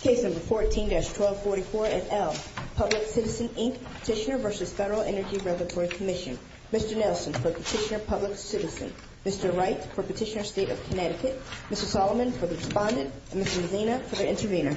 Case No. 14-1244-L, Public Citizen, Inc., Petitioner v. Federal Energy Regulatory Commission Mr. Nelson for Petitioner, Public Citizen Mr. Wright for Petitioner, State of Connecticut Mr. Solomon for the Respondent And Mr. Mezzina for the Intervenor Mr. Mezzina for the Intervenor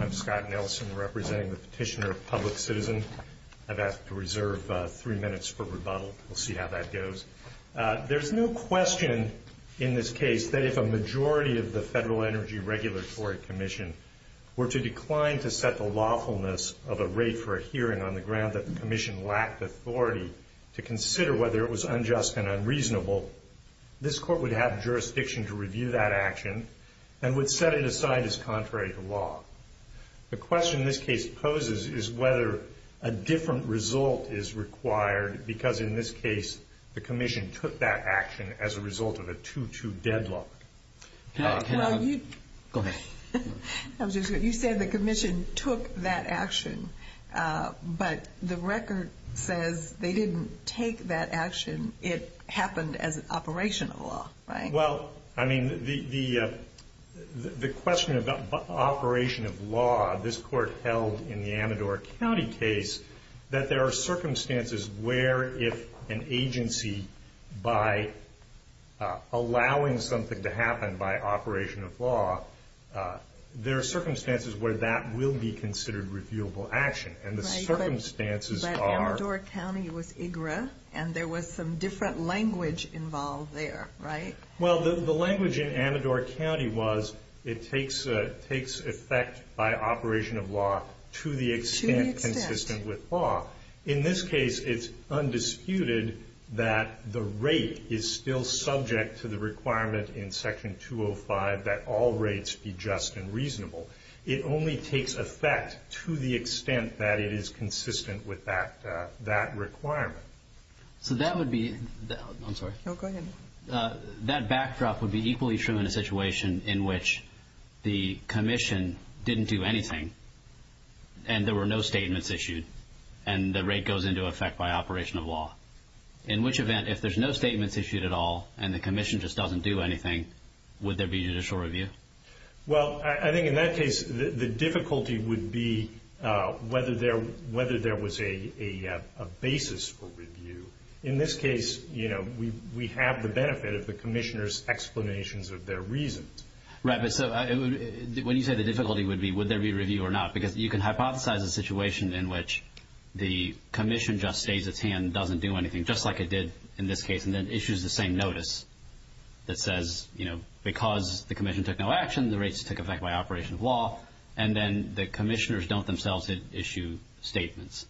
I'm Scott Nelson representing the Petitioner, Public Citizen. I've asked to reserve three minutes for rebuttal. We'll see how that goes. There's no question in this case that if a majority of the Federal Energy Regulatory Commission were to decline to set the lawfulness of a rate for a hearing on the ground that the Commission lacked authority to consider whether it was unjust and unreasonable, this Court would have jurisdiction to review that action and would set it aside as contrary to law. The question this case poses is whether a different result is required because in this case the Commission took that action as a result of a 2-2 deadlock. Go ahead. You said the Commission took that action, but the record says they didn't take that action. It happened as an operation of law, right? Well, I mean, the question about operation of law, this Court held in the Amador County case that there are circumstances where if an agency, by allowing something to happen by operation of law, there are circumstances where that will be considered reviewable action. But Amador County was IGRA, and there was some different language involved there, right? Well, the language in Amador County was it takes effect by operation of law to the extent consistent with law. In this case, it's undisputed that the rate is still subject to the requirement in Section 205 It only takes effect to the extent that it is consistent with that requirement. So that would be—I'm sorry. No, go ahead. That backdrop would be equally true in a situation in which the Commission didn't do anything and there were no statements issued and the rate goes into effect by operation of law. In which event, if there's no statements issued at all and the Commission just doesn't do anything, would there be judicial review? Well, I think in that case, the difficulty would be whether there was a basis for review. In this case, we have the benefit of the Commissioner's explanations of their reasons. Right, but so when you say the difficulty would be would there be review or not, because you can hypothesize a situation in which the Commission just stays its hand, doesn't do anything, just like it did in this case, and then issues the same notice that says, you know, because the Commission took no action, the rates took effect by operation of law, and then the Commissioners don't themselves issue statements.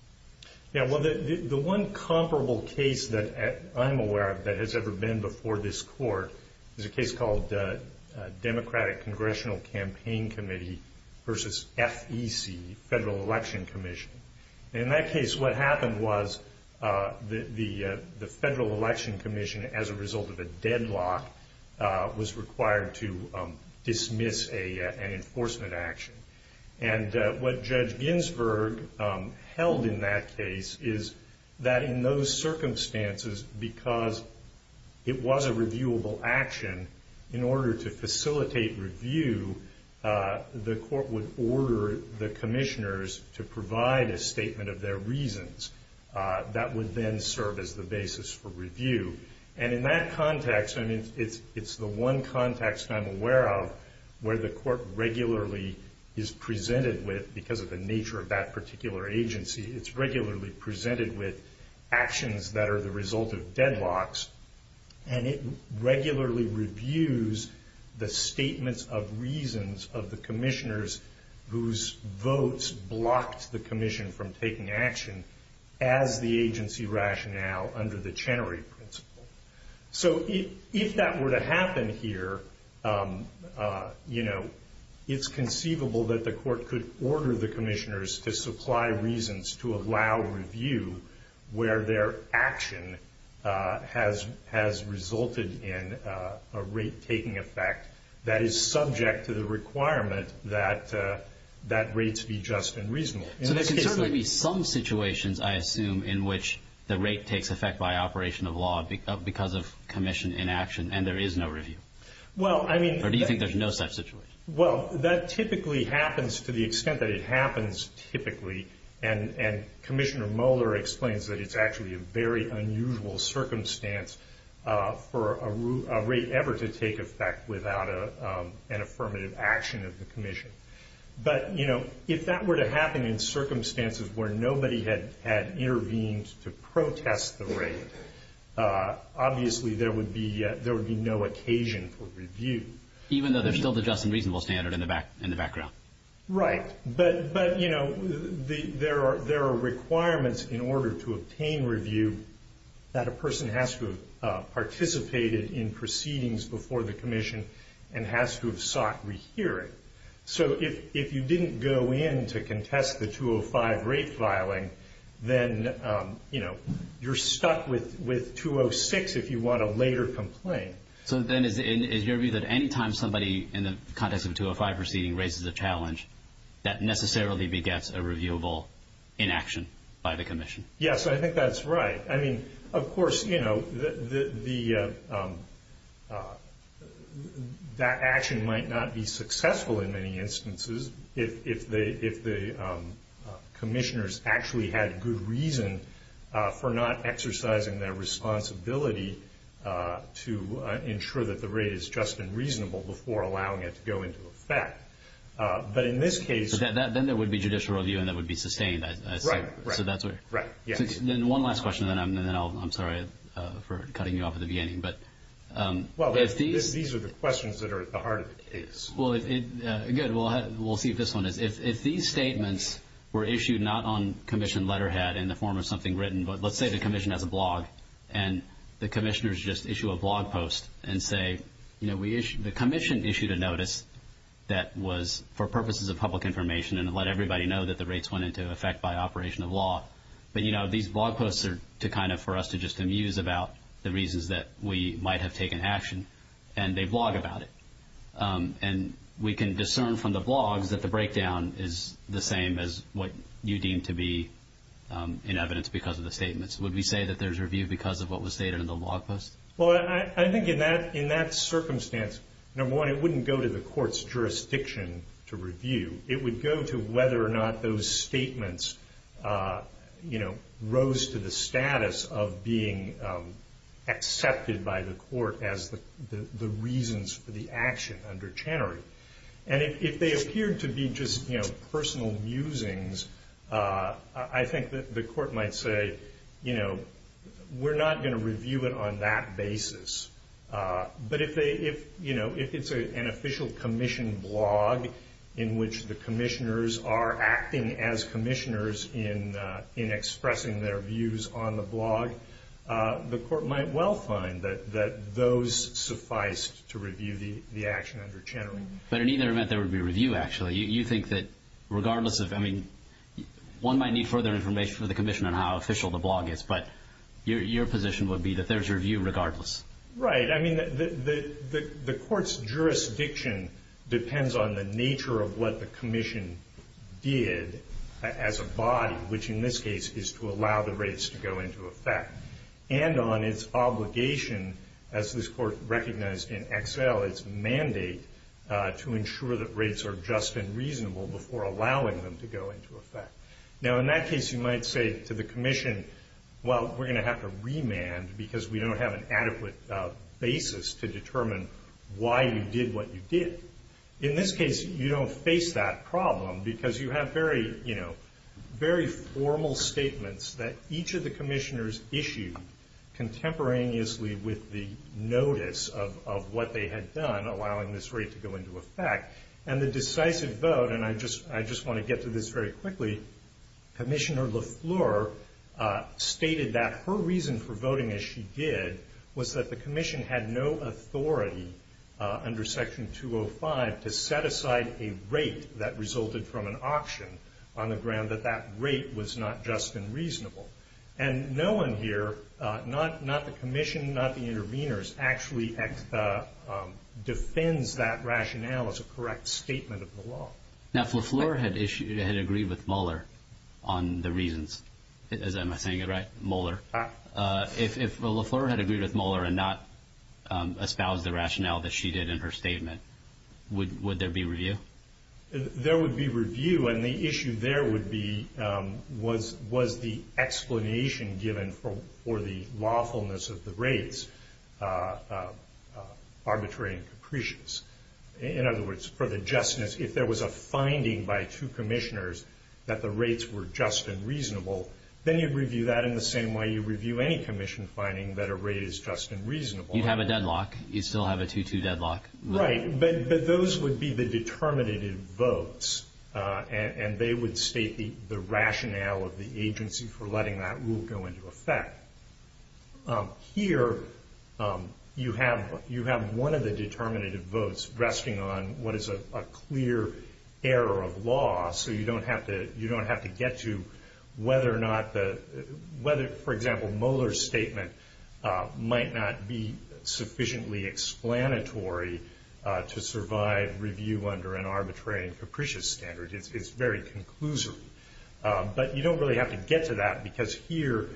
Yeah, well, the one comparable case that I'm aware of that has ever been before this Court is a case called Democratic Congressional Campaign Committee v. FEC, Federal Election Commission. In that case, what happened was the Federal Election Commission, as a result of a deadlock, was required to dismiss an enforcement action. And what Judge Ginsburg held in that case is that in those circumstances, because it was a reviewable action, in order to facilitate review, the Court would order the Commissioners to provide a statement of their reasons. That would then serve as the basis for review. And in that context, I mean, it's the one context I'm aware of where the Court regularly is presented with, because of the nature of that particular agency, it's regularly presented with actions that are the result of deadlocks, and it regularly reviews the statements of reasons of the Commissioners whose votes blocked the Commission from taking action as the agency rationale under the Chenery Principle. So if that were to happen here, you know, it's conceivable that the Court could order the Commissioners to supply reasons to allow review where their action has resulted in a rate-taking effect that is subject to the requirement that rates be just and reasonable. So there can certainly be some situations, I assume, in which the rate takes effect by operation of law because of Commission inaction and there is no review? Or do you think there's no such situation? Well, that typically happens to the extent that it happens typically, and Commissioner Moeller explains that it's actually a very unusual circumstance for a rate ever to take effect without an affirmative action of the Commission. But, you know, if that were to happen in circumstances where nobody had intervened to protest the rate, obviously there would be no occasion for review. Even though there's still the just and reasonable standard in the background? Right. But, you know, there are requirements in order to obtain review that a person has to have participated in proceedings before the Commission and has to have sought rehearing. So if you didn't go in to contest the 205 rate filing, then, you know, you're stuck with 206 if you want a later complaint. Okay. So then is your view that any time somebody in the context of a 205 proceeding raises a challenge, that necessarily begets a reviewable inaction by the Commission? Yes, I think that's right. I mean, of course, you know, that action might not be successful in many instances if the Commissioners actually had good reason for not exercising their responsibility to ensure that the rate is just and reasonable before allowing it to go into effect. But in this case – Then there would be judicial review and that would be sustained. Right, right. So that's what – Right, yeah. Then one last question and then I'm sorry for cutting you off at the beginning. Well, these are the questions that are at the heart of the case. Well, good, we'll see if this one is. If these statements were issued not on Commission letterhead in the form of something written, but let's say the Commission has a blog and the Commissioners just issue a blog post and say, you know, the Commission issued a notice that was for purposes of public information and let everybody know that the rates went into effect by operation of law. But, you know, these blog posts are kind of for us to just amuse about the reasons that we might have taken action and they blog about it. And we can discern from the blogs that the breakdown is the same as what you deem to be in evidence because of the statements. Would we say that there's review because of what was stated in the blog post? Well, I think in that circumstance, number one, it wouldn't go to the court's jurisdiction to review. It would go to whether or not those statements, you know, were used to the status of being accepted by the court as the reasons for the action under Channery. And if they appeared to be just, you know, personal musings, I think the court might say, you know, we're not going to review it on that basis. But if they, you know, if it's an official Commission blog in which the Commissioners are acting as Commissioners in expressing their views on the blog, the court might well find that those suffice to review the action under Channery. But in either event, there would be review, actually. You think that regardless of, I mean, one might need further information from the Commission on how official the blog is, but your position would be that there's review regardless. Right. I mean, the court's jurisdiction depends on the nature of what the Commission did as a body, which in this case is to allow the rates to go into effect, and on its obligation, as this court recognized in Excel, its mandate to ensure that rates are just and reasonable before allowing them to go into effect. Now, in that case, you might say to the Commission, well, we're going to have to remand because we don't have an adequate basis to determine why you did what you did. In this case, you don't face that problem because you have very, you know, very formal statements that each of the Commissioners issued contemporaneously with the notice of what they had done, allowing this rate to go into effect. And the decisive vote, and I just want to get to this very quickly, Commissioner LaFleur stated that her reason for voting as she did was that the Commission had no authority under Section 205 to set aside a rate that resulted from an auction on the ground that that rate was not just and reasonable. And no one here, not the Commission, not the interveners, actually defends that rationale as a correct statement of the law. Now, if LaFleur had agreed with Mueller on the reasons, am I saying it right? Mueller. If LaFleur had agreed with Mueller and not espoused the rationale that she did in her statement, would there be review? There would be review. And the issue there would be was the explanation given for the lawfulness of the rates arbitrary and capricious? In other words, for the justness. If there was a finding by two Commissioners that the rates were just and reasonable, then you'd review that in the same way you review any Commission finding that a rate is just and reasonable. You have a deadlock. You still have a 2-2 deadlock. Right. But those would be the determinative votes, and they would state the rationale of the agency for letting that rule go into effect. Here, you have one of the determinative votes resting on what is a clear error of law, so you don't have to get to whether, for example, Mueller's statement might not be sufficiently explanatory to survive review under an arbitrary and capricious standard. It's very conclusory. But you don't really have to get to that because here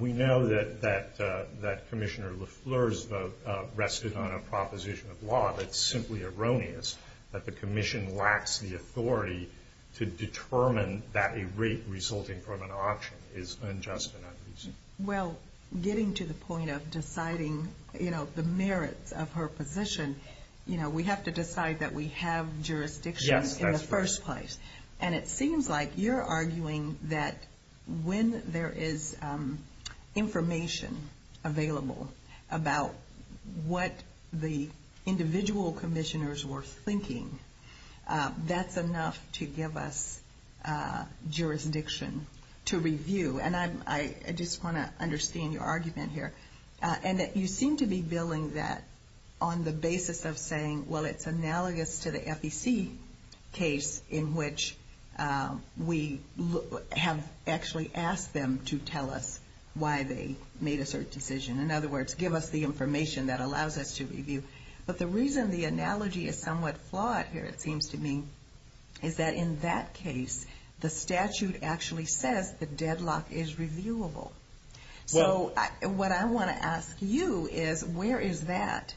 we know that Commissioner LaFleur's vote rested on a proposition of law that's simply erroneous, that the Commission lacks the authority to determine that a rate resulting from an auction is unjust and unreasonable. Well, getting to the point of deciding the merits of her position, we have to decide that we have jurisdiction in the first place. And it seems like you're arguing that when there is information available about what the individual commissioners were thinking, that's enough to give us jurisdiction to review. And I just want to understand your argument here, and that you seem to be billing that on the basis of saying, well, it's analogous to the FEC case in which we have actually asked them to tell us why they made a certain decision. In other words, give us the information that allows us to review. But the reason the analogy is somewhat flawed here, it seems to me, is that in that case, the statute actually says the deadlock is reviewable. So what I want to ask you is, where is that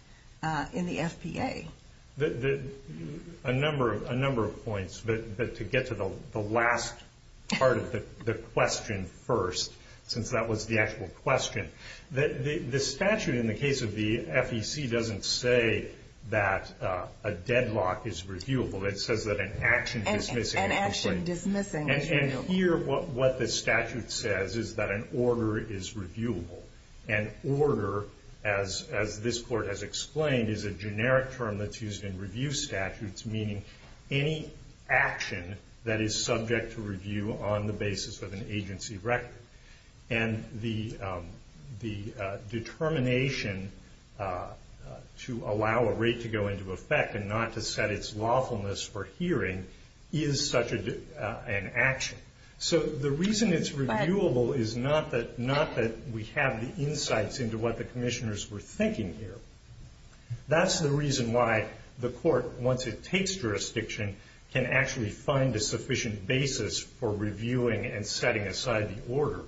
in the FPA? A number of points. But to get to the last part of the question first, since that was the actual question, the statute in the case of the FEC doesn't say that a deadlock is reviewable. And here, what the statute says is that an order is reviewable. An order, as this court has explained, is a generic term that's used in review statutes, meaning any action that is subject to review on the basis of an agency record. And the determination to allow a rate to go into effect and not to set its lawfulness for hearing is such an action. So the reason it's reviewable is not that we have the insights into what the commissioners were thinking here. That's the reason why the court, once it takes jurisdiction, can actually find a sufficient basis for reviewing and setting aside the order.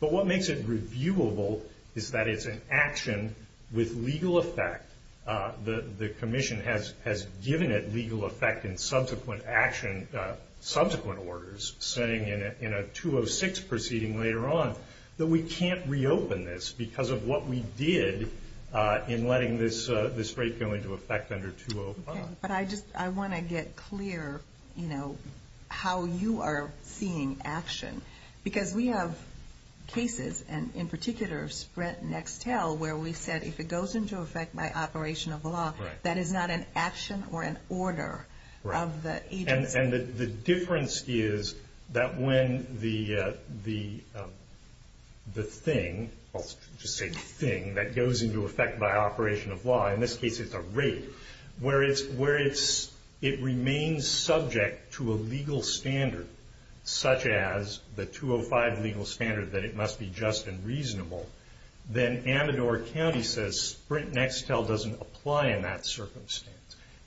But what makes it reviewable is that it's an action with legal effect. The commission has given it legal effect in subsequent action, subsequent orders, saying in a 206 proceeding later on, that we can't reopen this because of what we did in letting this rate go into effect under 205. Okay, but I want to get clear, you know, how you are seeing action. Because we have cases, and in particular, Sprint Nextel, where we said if it goes into effect by operation of law, that is not an action or an order of the agency. And the difference is that when the thing, I'll just say thing, that goes into effect by operation of law, in this case it's a rate, where it remains subject to a legal standard, such as the 205 legal standard that it must be just and reasonable, then Amador County says Sprint Nextel doesn't apply in that circumstance.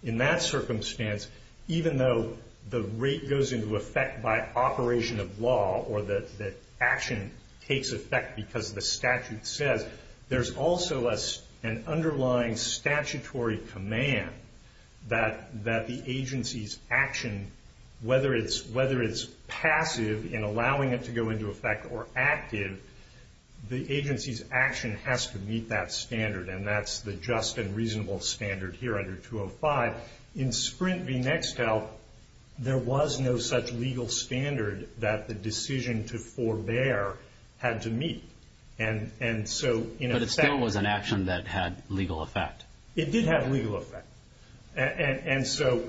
In that circumstance, even though the rate goes into effect by operation of law, or that action takes effect because the statute says, there's also an underlying statutory command that the agency's action, whether it's passive in allowing it to go into effect or active, the agency's action has to meet that standard, and that's the just and reasonable standard here under 205. In Sprint v. Nextel, there was no such legal standard that the decision to forbear had to meet. But it still was an action that had legal effect. It did have legal effect. And so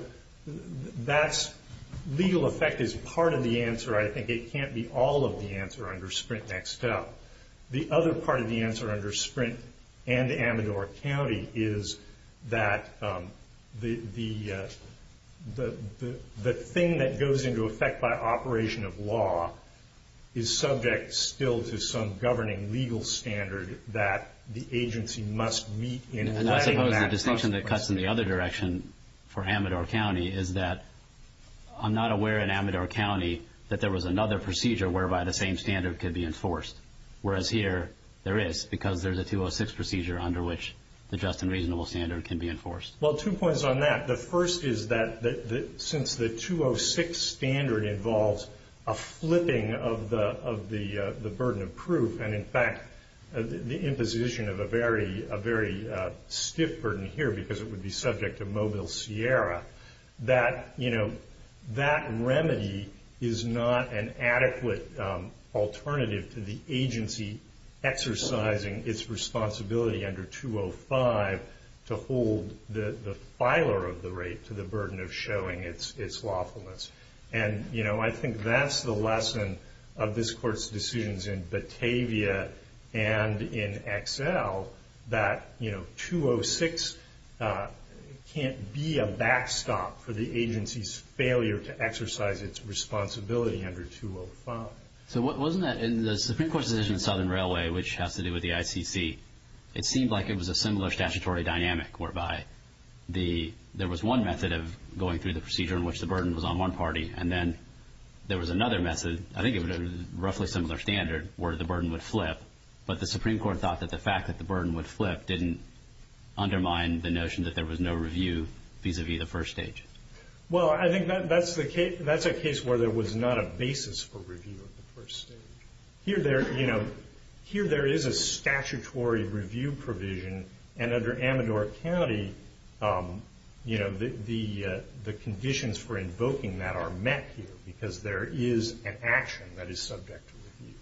legal effect is part of the answer. I think it can't be all of the answer under Sprint Nextel. The other part of the answer under Sprint and Amador County is that the thing that goes into effect by operation of law is subject still to some governing legal standard that the agency must meet in letting that process. And I suppose the distinction that cuts in the other direction for Amador County is that I'm not aware in Amador County that there was another procedure whereby the same standard could be enforced, whereas here there is because there's a 206 procedure under which the just and reasonable standard can be enforced. Well, two points on that. The first is that since the 206 standard involves a flipping of the burden of proof, and in fact the imposition of a very stiff burden here because it would be subject to Mobile Sierra, that remedy is not an adequate alternative to the agency exercising its responsibility under 205 to hold the filer of the rate to the burden of showing its lawfulness. And I think that's the lesson of this Court's decisions in Batavia and in Excel that 206 can't be a backstop for the agency's failure to exercise its responsibility under 205. So wasn't that in the Supreme Court's decision in Southern Railway, which has to do with the ICC, it seemed like it was a similar statutory dynamic whereby there was one method of going through the procedure in which the burden was on one party, and then there was another method, I think it was a roughly similar standard, where the burden would flip, but the Supreme Court thought that the fact that the burden would flip didn't undermine the notion that there was no review vis-à-vis the first stage. Well, I think that's a case where there was not a basis for review of the first stage. Here there is a statutory review provision, and under Amador County the conditions for invoking that are met here because there is an action that is subject to review.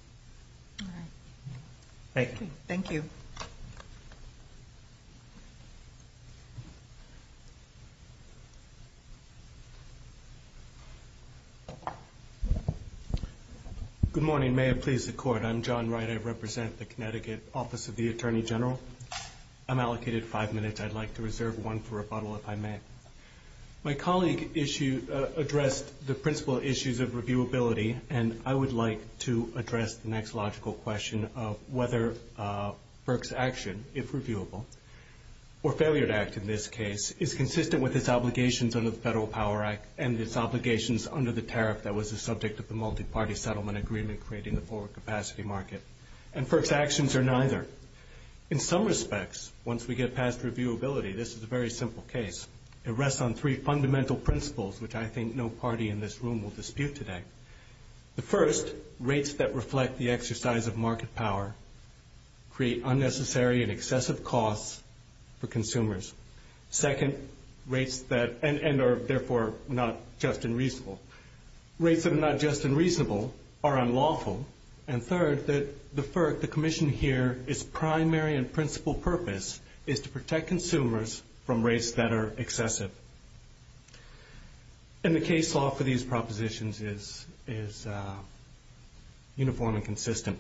All right. Thank you. Thank you. Thank you. Good morning. May it please the Court. I'm John Wright. I represent the Connecticut Office of the Attorney General. I'm allocated five minutes. I'd like to reserve one for rebuttal if I may. My colleague addressed the principal issues of reviewability, and I would like to address the next logical question of whether FERC's action, if reviewable, or failure to act in this case, is consistent with its obligations under the Federal Power Act and its obligations under the tariff that was the subject of the multi-party settlement agreement creating the forward capacity market. And FERC's actions are neither. In some respects, once we get past reviewability, this is a very simple case. It rests on three fundamental principles, which I think no party in this room will dispute today. The first, rates that reflect the exercise of market power create unnecessary and excessive costs for consumers. Second, rates that are therefore not just and reasonable. Rates that are not just and reasonable are unlawful. And third, that the FERC, the commission here, its primary and principal purpose is to protect consumers from rates that are excessive. And the case law for these propositions is uniform and consistent.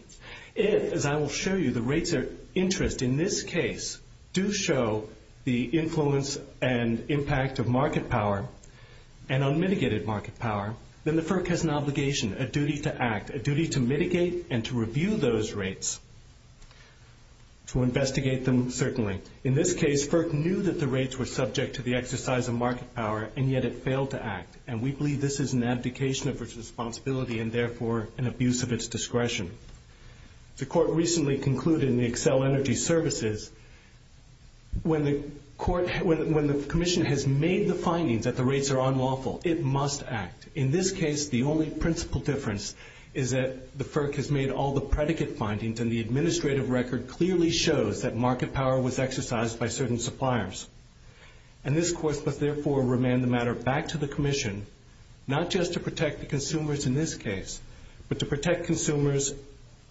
If, as I will show you, the rates of interest in this case do show the influence and impact of market power and unmitigated market power, then the FERC has an obligation, a duty to act, a duty to mitigate, and to review those rates, to investigate them, certainly. In this case, FERC knew that the rates were subject to the exercise of market power, and yet it failed to act. And we believe this is an abdication of its responsibility and therefore an abuse of its discretion. The court recently concluded in the Accel Energy Services, when the commission has made the findings that the rates are unlawful, it must act. In this case, the only principal difference is that the FERC has made all the predicate findings and the administrative record clearly shows that market power was exercised by certain suppliers. And this court must therefore remand the matter back to the commission, not just to protect the consumers in this case, but to protect consumers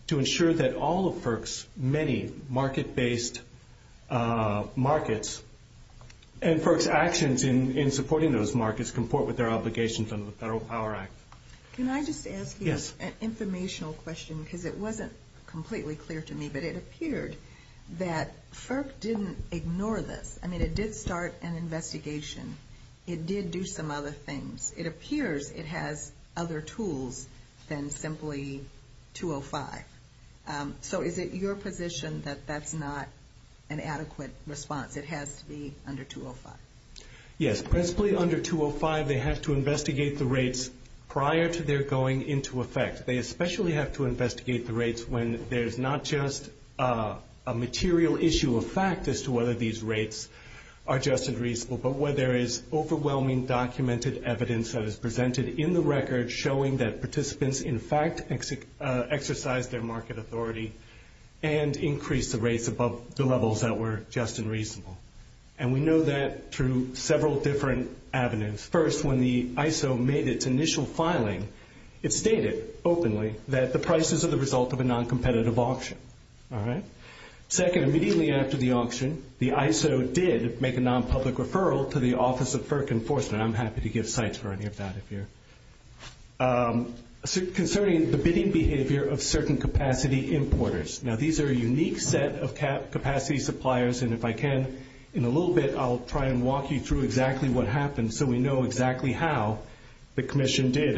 to ensure that all of FERC's many market-based markets and FERC's actions in supporting those markets comport with their obligations under the Federal Power Act. Can I just ask you an informational question? Because it wasn't completely clear to me, but it appeared that FERC didn't ignore this. I mean, it did start an investigation. It did do some other things. It appears it has other tools than simply 205. So is it your position that that's not an adequate response? It has to be under 205? Yes. Principally under 205, they have to investigate the rates prior to their going into effect. They especially have to investigate the rates when there's not just a material issue of fact as to whether these rates are just and reasonable, but where there is overwhelming documented evidence that is presented in the record showing that participants in fact exercised their market authority and increased the rates above the levels that were just and reasonable. And we know that through several different avenues. First, when the ISO made its initial filing, it stated openly that the prices are the result of a noncompetitive auction. Second, immediately after the auction, the ISO did make a nonpublic referral to the Office of FERC Enforcement. I'm happy to give sites for any of that if you're... Concerning the bidding behavior of certain capacity importers. Now, these are a unique set of capacity suppliers, and if I can, in a little bit, I'll try and walk you through exactly what happened so we know exactly how the Commission did,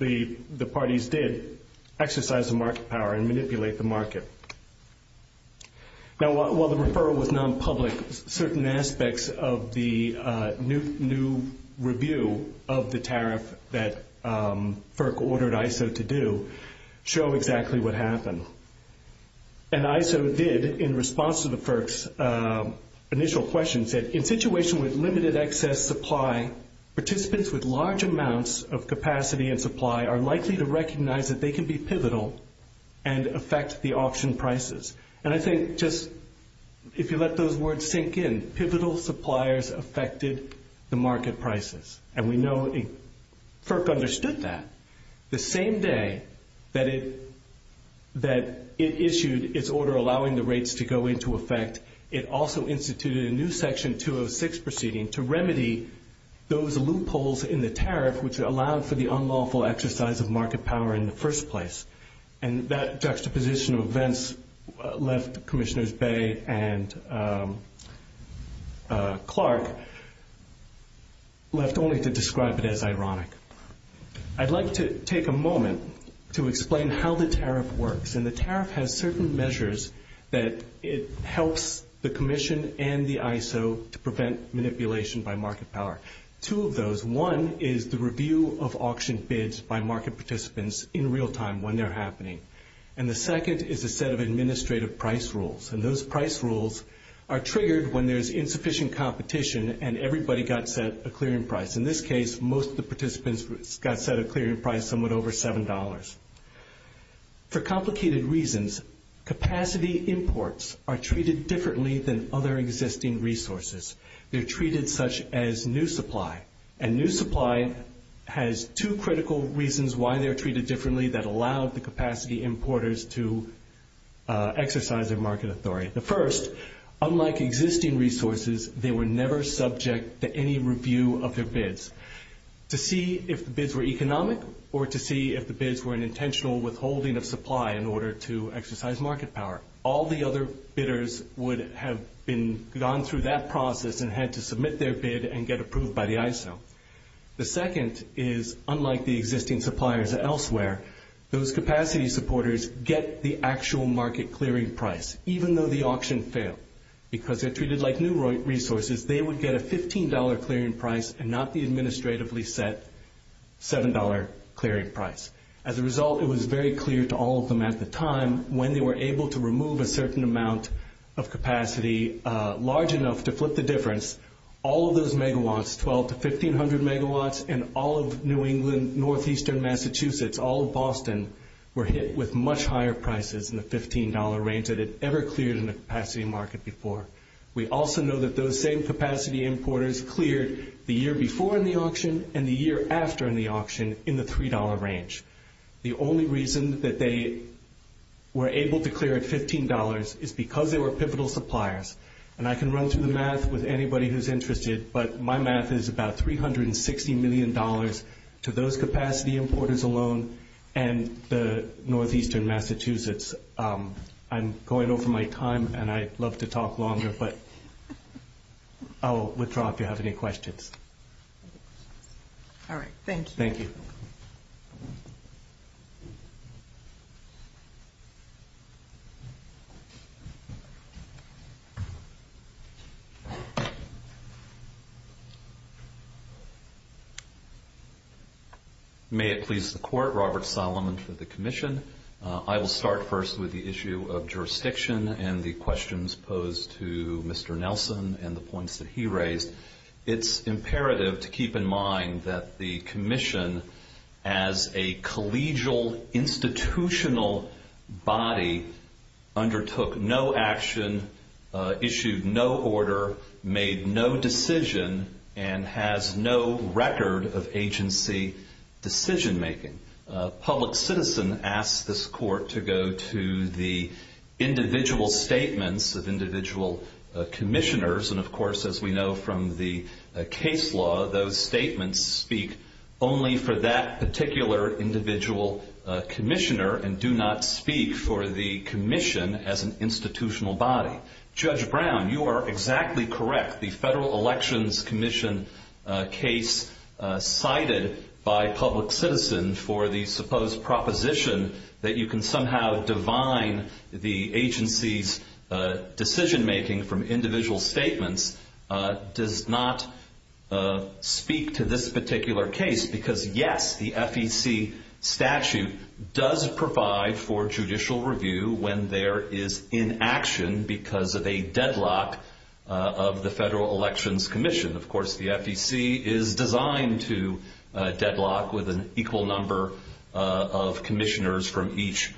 the parties did, exercise the market power and manipulate the market. Now, while the referral was nonpublic, certain aspects of the new review of the tariff that FERC ordered ISO to do show exactly what happened. And ISO did, in response to the FERC's initial question, said, in a situation with limited excess supply, participants with large amounts of capacity and supply are likely to recognize that they can be pivotal and affect the auction prices. And I think just, if you let those words sink in, pivotal suppliers affected the market prices. And we know FERC understood that. The same day that it issued its order allowing the rates to go into effect, it also instituted a new Section 206 proceeding to remedy those loopholes in the tariff which allowed for the unlawful exercise of market power in the first place. And that juxtaposition of events left Commissioners Bay and Clark left only to describe it as ironic. I'd like to take a moment to explain how the tariff works. And the tariff has certain measures that it helps the Commission and the ISO to prevent manipulation by market power. Two of those. One is the review of auction bids by market participants in real time when they're happening. And the second is a set of administrative price rules. And those price rules are triggered when there's insufficient competition and everybody got set a clearing price. In this case, most of the participants got set a clearing price somewhat over $7. For complicated reasons, capacity imports are treated differently than other existing resources. They're treated such as new supply. And new supply has two critical reasons why they're treated differently that allow the capacity importers to exercise their market authority. The first, unlike existing resources, they were never subject to any review of their bids. To see if the bids were economic or to see if the bids were an intentional withholding of supply in order to exercise market power. All the other bidders would have gone through that process and had to submit their bid and get approved by the ISO. The second is, unlike the existing suppliers elsewhere, those capacity supporters get the actual market clearing price, even though the auction failed. Because they're treated like new resources, they would get a $15 clearing price and not the administratively set $7 clearing price. As a result, it was very clear to all of them at the time when they were able to remove a certain amount of capacity, large enough to flip the difference, all of those megawatts, 1,200 to 1,500 megawatts, and all of New England, Northeastern Massachusetts, all of Boston, were hit with much higher prices in the $15 range than had ever cleared in a capacity market before. We also know that those same capacity importers cleared the year before in the auction and the year after in the auction in the $3 range. The only reason that they were able to clear at $15 is because they were pivotal suppliers. And I can run through the math with anybody who's interested, but my math is about $360 million to those capacity importers alone and the Northeastern Massachusetts. I'm going over my time, and I'd love to talk longer, but I'll withdraw if you have any questions. All right, thank you. Thank you. May it please the Court, Robert Solomon for the Commission. I will start first with the issue of jurisdiction and the questions posed to Mr. Nelson and the points that he raised. It's imperative to keep in mind that the Commission, as a collegial institutional body, undertook no action, issued no order, made no decision, and has no record of agency decision-making. A public citizen asked this Court to go to the individual statements of individual commissioners, and of course, as we know from the case law, those statements speak only for that particular individual commissioner and do not speak for the Commission as an institutional body. Judge Brown, you are exactly correct. The Federal Elections Commission case cited by public citizens for the supposed proposition that you can somehow divine the agency's decision-making from individual statements does not speak to this particular case because, yes, the FEC statute does provide for judicial review when there is inaction because of a deadlock of the Federal Elections Commission. Of course, the FEC is designed to deadlock with an equal number of commissioners from each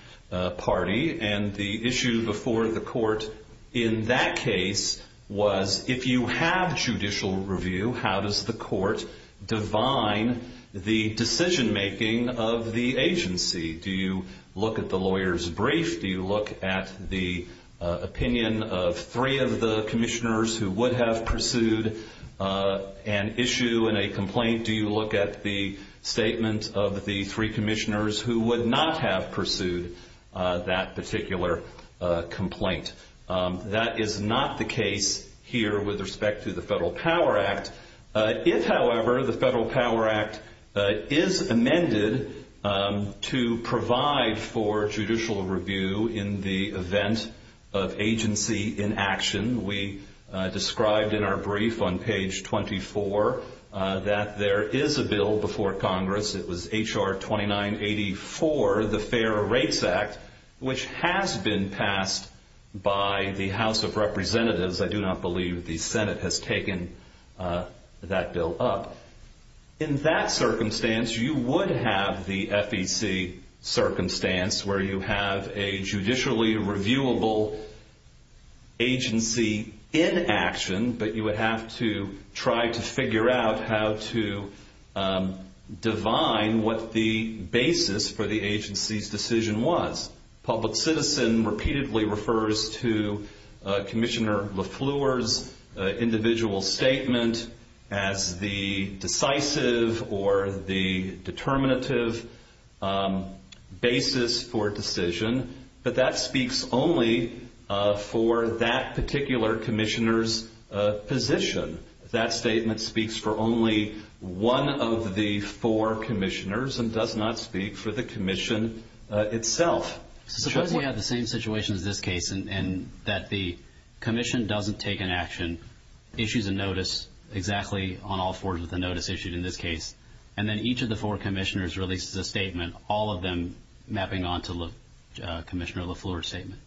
party, and the issue before the Court in that case was, if you have judicial review, how does the Court divine the decision-making of the agency? Do you look at the lawyer's brief? Do you look at the opinion of three of the commissioners who would have pursued an issue and a complaint? Do you look at the statement of the three commissioners who would not have pursued that particular complaint? That is not the case here with respect to the Federal Power Act. If, however, the Federal Power Act is amended to provide for judicial review in the event of agency inaction, we described in our brief on page 24 that there is a bill before Congress. It was H.R. 2984, the Fairer Rates Act, which has been passed by the House of Representatives. I do not believe the Senate has taken that bill up. In that circumstance, you would have the FEC circumstance where you have a judicially reviewable agency inaction, but you would have to try to figure out how to divine what the basis for the agency's decision was. Public citizen repeatedly refers to Commissioner LeFleur's individual statement as the decisive or the determinative basis for decision, but that speaks only for that particular commissioner's position. That statement speaks for only one of the four commissioners and does not speak for the commission itself. Suppose we have the same situation as this case and that the commission doesn't take an action, issues a notice exactly on all four of the notices issued in this case, and then each of the four commissioners releases a statement, all of them mapping onto Commissioner LeFleur's statement.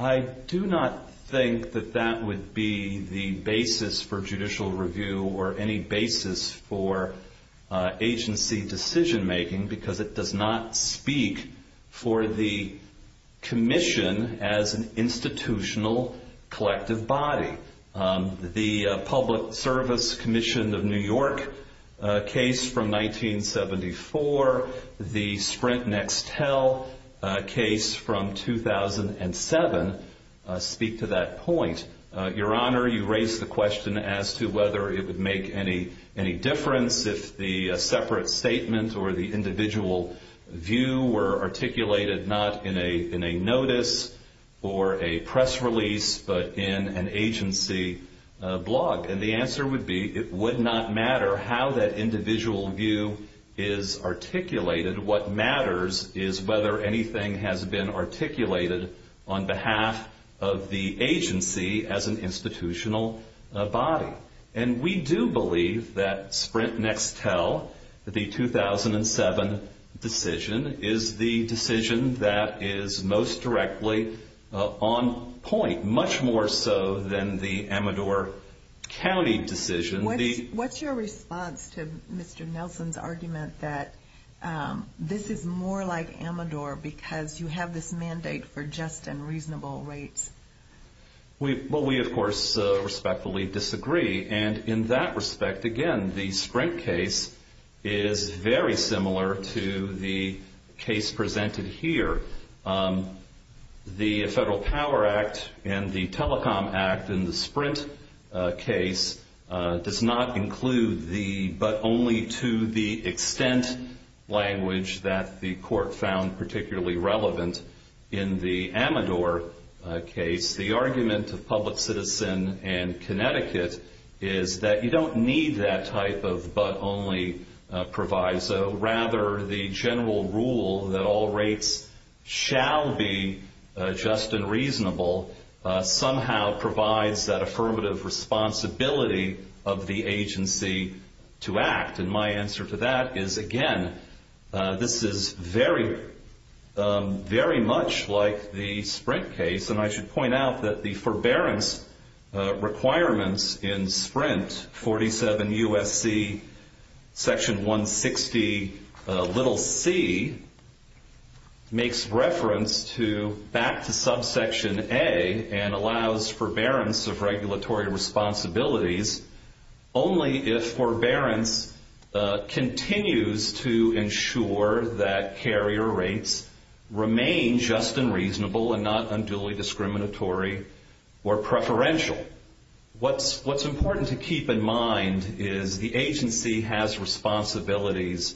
I do not think that that would be the basis for judicial review or any basis for agency decision-making because it does not speak for the commission as an institutional collective body. The Public Service Commission of New York case from 1974, the Sprint Next Tell case from 2007 speak to that point. Your Honor, you raise the question as to whether it would make any difference if the separate statement or the individual view were articulated not in a notice or a press release but in an agency blog. And the answer would be it would not matter how that individual view is articulated. What matters is whether anything has been articulated on behalf of the agency as an institutional body. And we do believe that Sprint Next Tell, the 2007 decision, is the decision that is most directly on point, much more so than the Amador County decision. What's your response to Mr. Nelson's argument that this is more like Amador because you have this mandate for just and reasonable rates? Well, we, of course, respectfully disagree. And in that respect, again, the Sprint case is very similar to the case presented here. The Federal Power Act and the Telecom Act in the Sprint case does not include the but only to the extent language that the Court found particularly relevant in the Amador case. The argument of public citizen and Connecticut is that you don't need that type of but only proviso. Rather, the general rule that all rates shall be just and reasonable somehow provides that affirmative responsibility of the agency to act. And my answer to that is, again, this is very, very much like the Sprint case. And I should point out that the forbearance requirements in Sprint 47 U.S.C., Section 160, little c, makes reference back to subsection a and allows forbearance of regulatory responsibilities only if forbearance continues to ensure that carrier rates remain just and reasonable and not unduly discriminatory or preferential. So what's important to keep in mind is the agency has responsibilities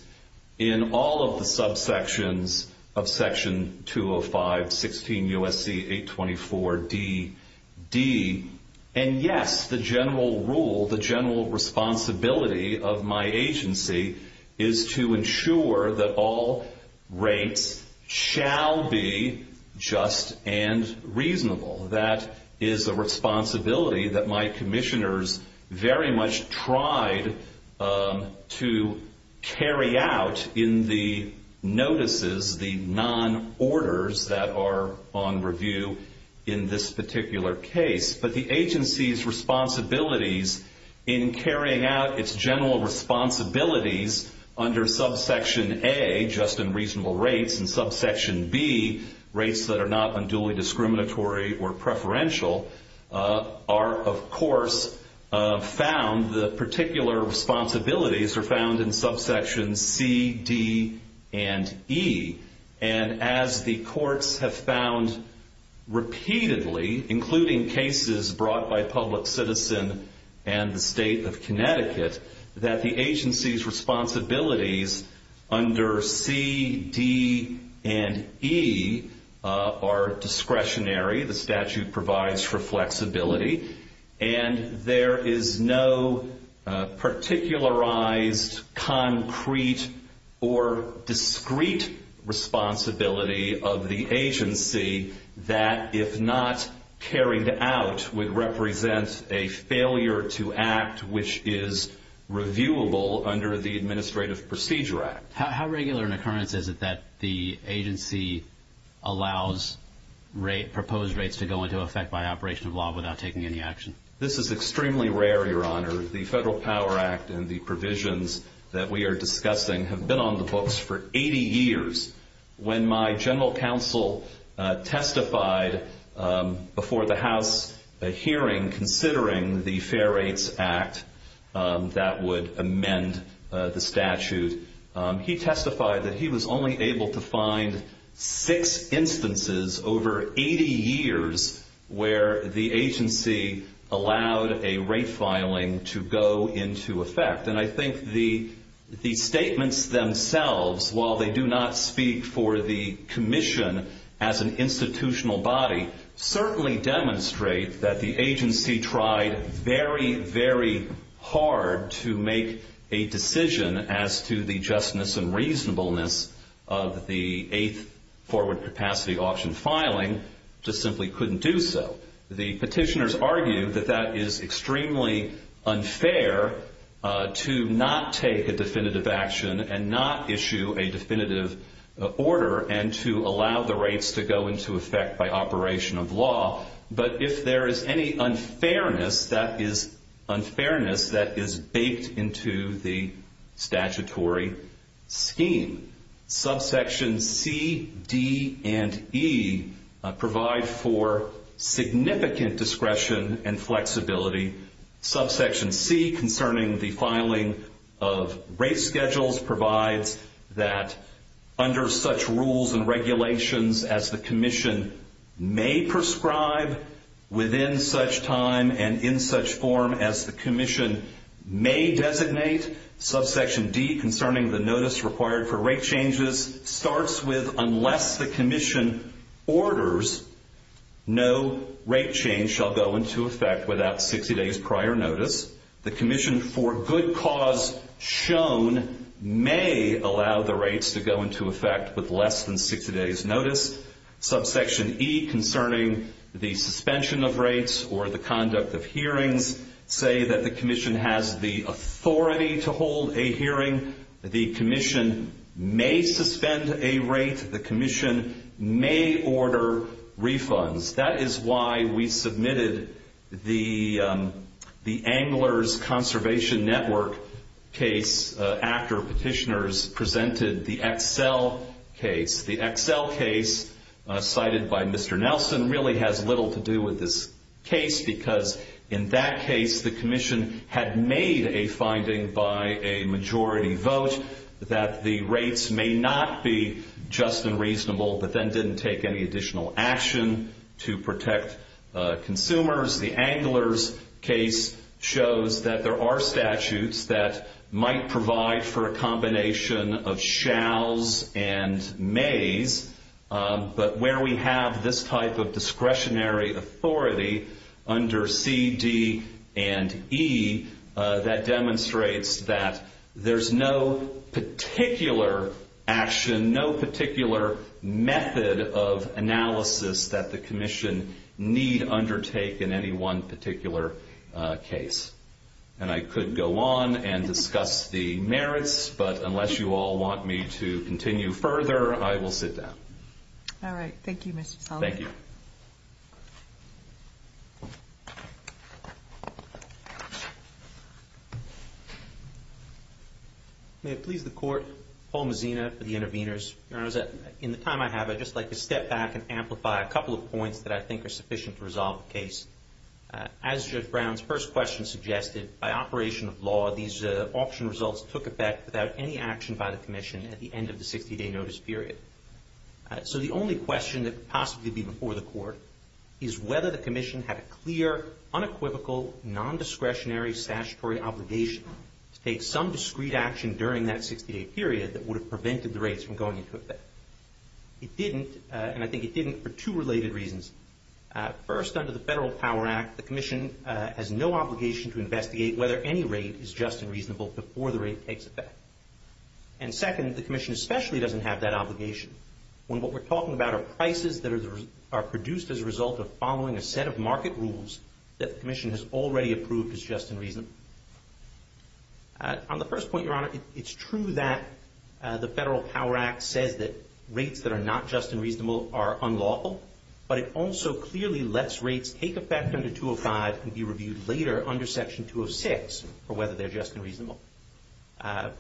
in all of the subsections of Section 205, 16 U.S.C., 824DD. And, yes, the general rule, the general responsibility of my agency is to ensure that all rates shall be just and reasonable. That is a responsibility that my commissioners very much tried to carry out in the notices, the non-orders that are on review in this particular case. But the agency's responsibilities in carrying out its general responsibilities under subsection a, just and reasonable rates, and subsection b, rates that are not unduly discriminatory or preferential, are, of course, found, the particular responsibilities are found in subsections c, d, and e. And as the courts have found repeatedly, including cases brought by public citizen and the state of Connecticut, that the agency's responsibilities under c, d, and e are discretionary. The statute provides for flexibility. And there is no particularized, concrete, or discrete responsibility of the agency that, if not carried out, would represent a failure to act, which is reviewable under the Administrative Procedure Act. How regular an occurrence is it that the agency allows proposed rates to go into effect by operation of law without taking any action? This is extremely rare, Your Honor. The Federal Power Act and the provisions that we are discussing have been on the books for 80 years. When my general counsel testified before the House hearing, considering the Fair Rates Act that would amend the statute, he testified that he was only able to find six instances over 80 years where the agency allowed a rate filing to go into effect. And I think the statements themselves, while they do not speak for the commission as an institutional body, certainly demonstrate that the agency tried very, very hard to make a decision as to the justness and reasonableness of the Eighth Forward Capacity Option filing, just simply couldn't do so. The petitioners argue that that is extremely unfair to not take a definitive action and not issue a definitive order and to allow the rates to go into effect by operation of law. But if there is any unfairness, that is unfairness that is baked into the statutory scheme. Subsections C, D, and E provide for significant discretion and flexibility. Subsection C concerning the filing of rate schedules provides that under such rules and regulations as the commission may prescribe within such time and in such form as the commission may designate, Subsection D concerning the notice required for rate changes starts with unless the commission orders, no rate change shall go into effect without 60 days prior notice. The commission, for good cause shown, may allow the rates to go into effect with less than 60 days notice. Subsection E concerning the suspension of rates or the conduct of hearings say that the commission has the authority to hold a hearing. The commission may suspend a rate. The commission may order refunds. That is why we submitted the Anglers Conservation Network case after petitioners presented the Excel case. The Excel case cited by Mr. Nelson really has little to do with this case because in that case the commission had made a finding by a majority vote that the rates may not be just and reasonable but then didn't take any additional action to protect consumers. The Anglers case shows that there are statutes that might provide for a combination of shalls and mays, but where we have this type of discretionary authority under C, D, and E, that demonstrates that there's no particular action, no particular method of analysis that the commission need undertake in any one particular case. And I could go on and discuss the merits, but unless you all want me to continue further, I will sit down. All right. Thank you, Mr. Sullivan. Thank you. May it please the Court, Paul Mazzina for the interveners. In the time I have, I'd just like to step back and amplify a couple of points that I think are sufficient to resolve the case. As Judge Brown's first question suggested, by operation of law, these auction results took effect without any action by the commission at the end of the 60-day notice period. So the only question that could possibly be before the Court is whether the commission had a clear, unequivocal, nondiscretionary statutory obligation to take some discreet action during that 60-day period that would have prevented the rates from going into effect. It didn't, and I think it didn't for two related reasons. First, under the Federal Power Act, the commission has no obligation to investigate whether any rate is just and reasonable before the rate takes effect. And second, the commission especially doesn't have that obligation, when what we're talking about are prices that are produced as a result of following a set of market rules that the commission has already approved as just and reasonable. On the first point, Your Honor, it's true that the Federal Power Act says that rates that are not just and reasonable are unlawful, but it also clearly lets rates take effect under 205 and be reviewed later under Section 206 for whether they're just and reasonable.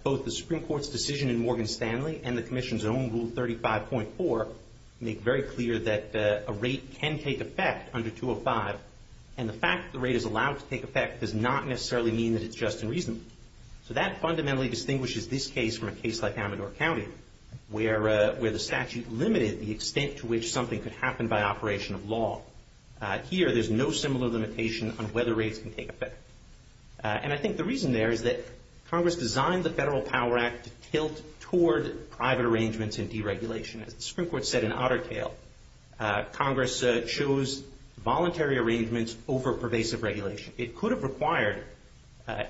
Both the Supreme Court's decision in Morgan Stanley and the commission's own Rule 35.4 make very clear that a rate can take effect under 205, and the fact that the rate is allowed to take effect does not necessarily mean that it's just and reasonable. So that fundamentally distinguishes this case from a case like Amador County, where the statute limited the extent to which something could happen by operation of law. Here, there's no similar limitation on whether rates can take effect. And I think the reason there is that Congress designed the Federal Power Act to tilt toward private arrangements and deregulation. As the Supreme Court said in Ottertail, Congress chose voluntary arrangements over pervasive regulation. It could have required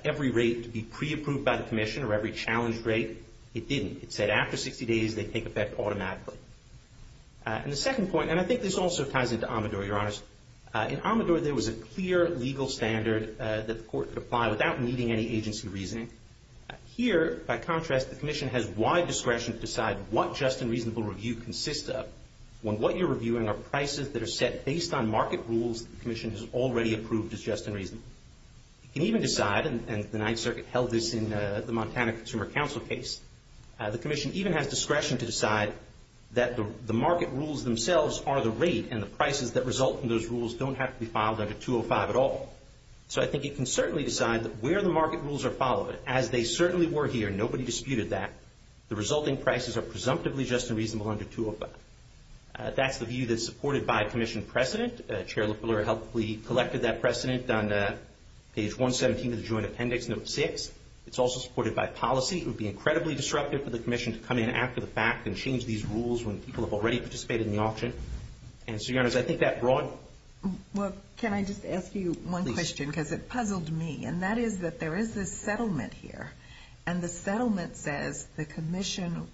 every rate to be pre-approved by the commission or every challenged rate. It didn't. It said after 60 days, they'd take effect automatically. And the second point, and I think this also ties into Amador, Your Honors. In Amador, there was a clear legal standard that the court could apply without needing any agency reasoning. Here, by contrast, the commission has wide discretion to decide what just and reasonable review consists of, when what you're reviewing are prices that are set based on market rules the commission has already approved as just and reasonable. It can even decide, and the Ninth Circuit held this in the Montana Consumer Council case, the commission even has discretion to decide that the market rules themselves are the rate and the prices that result from those rules don't have to be filed under 205 at all. So I think it can certainly decide that where the market rules are followed, as they certainly were here, nobody disputed that, the resulting prices are presumptively just and reasonable under 205. That's the view that's supported by commission precedent. Chair Loeffler helpfully collected that precedent on page 117 of the joint appendix, note 6. It's also supported by policy. It would be incredibly disruptive for the commission to come in after the fact and change these rules when people have already participated in the auction. And so, Your Honors, I think that broad... Well, can I just ask you one question, because it puzzled me, and that is that there is this settlement here, and the settlement says the commission,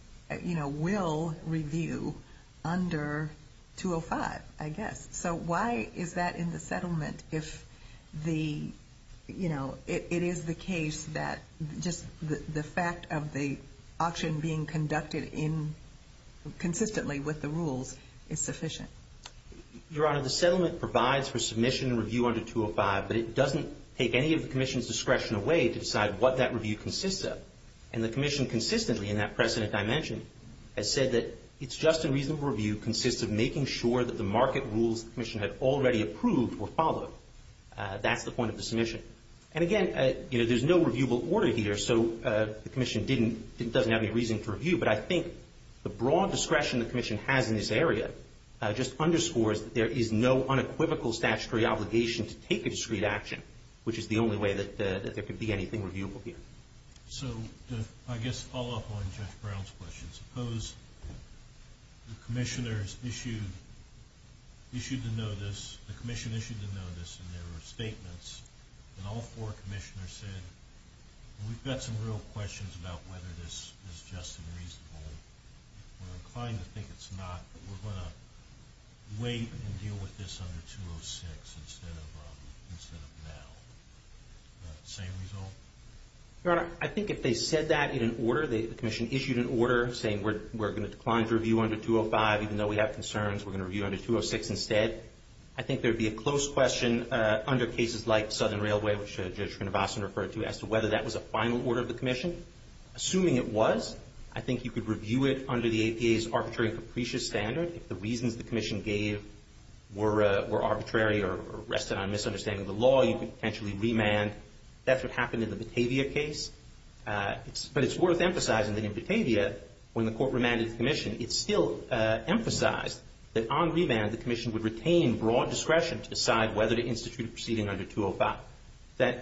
you know, will review under 205, I guess. So why is that in the settlement if the, you know, it is the case that just the fact of the auction being conducted consistently with the rules is sufficient? Your Honor, the settlement provides for submission and review under 205, but it doesn't take any of the commission's discretion away to decide what that review consists of. And the commission consistently, in that precedent I mentioned, has said that it's just a reasonable review consists of making sure that the market rules the commission had already approved were followed. That's the point of the submission. And, again, you know, there's no reviewable order here, so the commission doesn't have any reason to review. But I think the broad discretion the commission has in this area just underscores that there is no unequivocal statutory obligation to take a discrete action, which is the only way that there could be anything reviewable here. So to, I guess, follow up on Jeff Brown's question, suppose the commissioners issued the notice, the commission issued the notice, and there were statements, and all four commissioners said, we've got some real questions about whether this is just and reasonable. We're inclined to think it's not, but we're going to wait and deal with this under 206 instead of now. Same result? Your Honor, I think if they said that in an order, the commission issued an order saying we're going to decline to review under 205, even though we have concerns, we're going to review under 206 instead. I think there would be a close question under cases like Southern Railway, which Judge Konevassen referred to, as to whether that was a final order of the commission. Assuming it was, I think you could review it under the APA's arbitrary and capricious standard. If the reasons the commission gave were arbitrary or rested on misunderstanding of the law, you could potentially remand. That's what happened in the Batavia case. But it's worth emphasizing that in Batavia, when the court remanded the commission, it still emphasized that on remand the commission would retain broad discretion to decide whether to institute a proceeding under 205.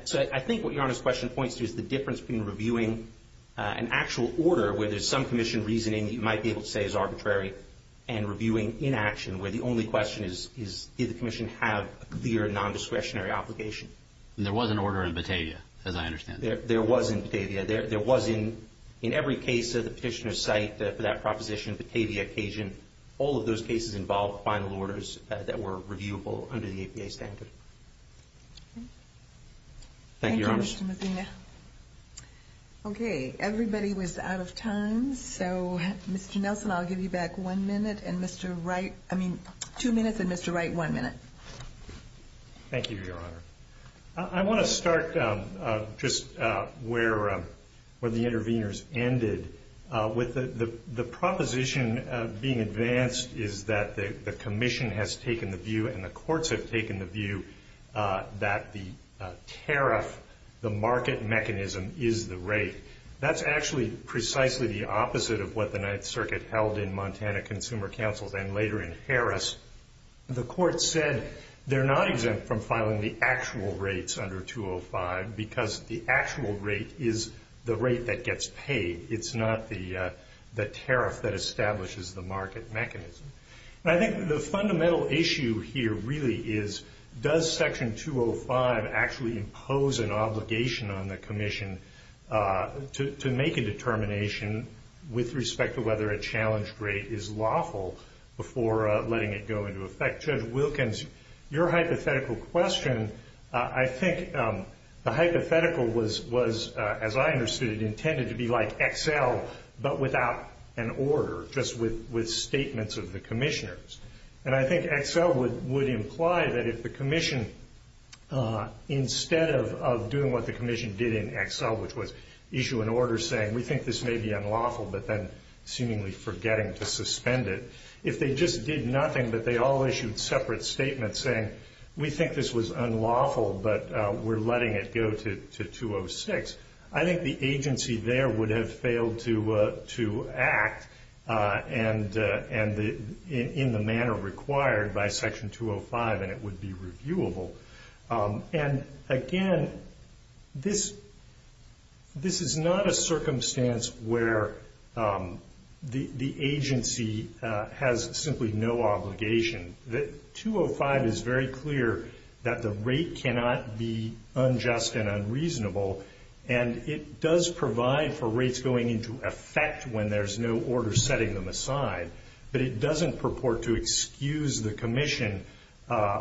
So I think what Your Honor's question points to is the difference between reviewing an actual order where there's some commission reasoning you might be able to say is arbitrary and reviewing inaction, where the only question is, did the commission have a clear nondiscretionary obligation? There was an order in Batavia, as I understand it. There was in Batavia. There was in every case of the petitioner's site for that proposition, Batavia, Cajun, all of those cases involved final orders that were reviewable under the APA standard. Thank you, Your Honor. Thank you, Mr. Medina. Okay, everybody was out of time. So, Mr. Nelson, I'll give you back two minutes and Mr. Wright one minute. Thank you, Your Honor. I want to start just where the interveners ended. The proposition being advanced is that the commission has taken the view and the courts have taken the view that the tariff, the market mechanism, is the rate. That's actually precisely the opposite of what the Ninth Circuit held in Montana Consumer Council and later in Harris. The court said they're not exempt from filing the actual rates under 205 because the actual rate is the rate that gets paid. It's not the tariff that establishes the market mechanism. I think the fundamental issue here really is, does Section 205 actually impose an obligation on the commission to make a determination with respect to whether a challenge rate is lawful before letting it go into effect? Judge Wilkins, your hypothetical question, I think the hypothetical was, as I understood it, intended to be like Excel but without an order, just with statements of the commissioners. I think Excel would imply that if the commission, instead of doing what the commission did in Excel, which was issue an order saying, we think this may be unlawful, but then seemingly forgetting to suspend it, if they just did nothing but they all issued separate statements saying, we think this was unlawful but we're letting it go to 206, I think the agency there would have failed to act in the manner required by Section 205 and it would be reviewable. Again, this is not a circumstance where the agency has simply no obligation. Section 205 is very clear that the rate cannot be unjust and unreasonable, and it does provide for rates going into effect when there's no order setting them aside, but it doesn't purport to excuse the commission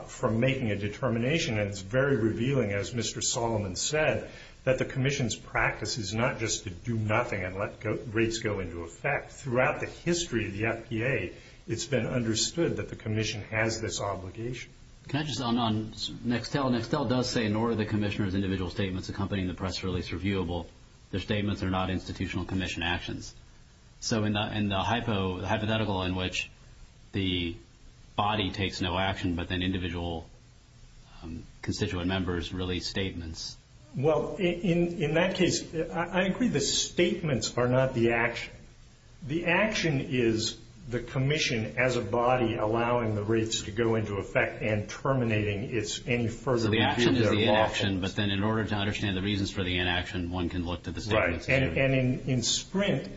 from making a determination. It's very revealing, as Mr. Solomon said, that the commission's practice is not just to do nothing and let rates go into effect. Throughout the history of the FPA, it's been understood that the commission has this obligation. Can I just add on Nextel? Nextel does say, in order that commissioners' individual statements accompany the press release reviewable, their statements are not institutional commission actions. So in the hypothetical in which the body takes no action but then individual constituent members release statements. Well, in that case, I agree the statements are not the action. The action is the commission as a body allowing the rates to go into effect and terminating any further. So the action is the inaction, but then in order to understand the reasons for the inaction, one can look to the statements. Right, and in Sprint,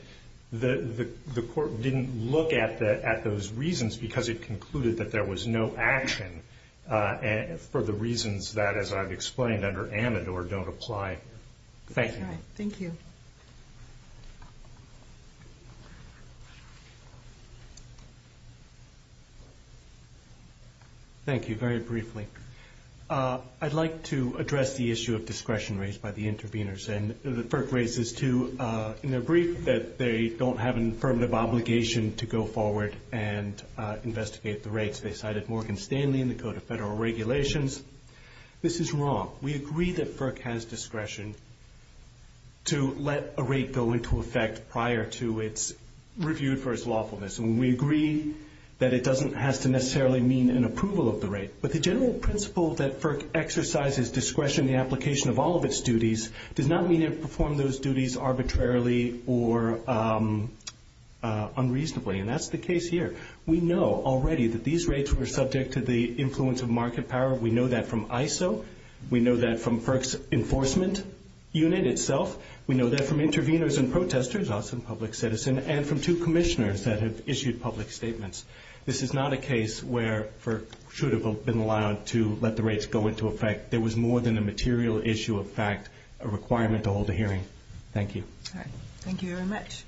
the court didn't look at those reasons because it concluded that there was no action for the reasons that, as I've explained, under Amador don't apply. Thank you. Thank you. Thank you, very briefly. I'd like to address the issue of discretion raised by the interveners, and the FERC raises, too, in their brief that they don't have an affirmative obligation to go forward and investigate the rates. They cited Morgan Stanley in the Code of Federal Regulations. This is wrong. We agree that FERC has discretion to let a rate go into effect prior to it's reviewed for its lawfulness, and we agree that it doesn't have to necessarily mean an approval of the rate, but the general principle that FERC exercises discretion in the application of all of its duties does not mean it performs those duties arbitrarily or unreasonably, and that's the case here. We know already that these rates were subject to the influence of market power. We know that from ISO. We know that from FERC's enforcement unit itself. We know that from interveners and protesters, us and public citizen, and from two commissioners that have issued public statements. This is not a case where FERC should have been allowed to let the rates go into effect. There was more than a material issue of fact, a requirement to hold a hearing. Thank you. Thank you very much.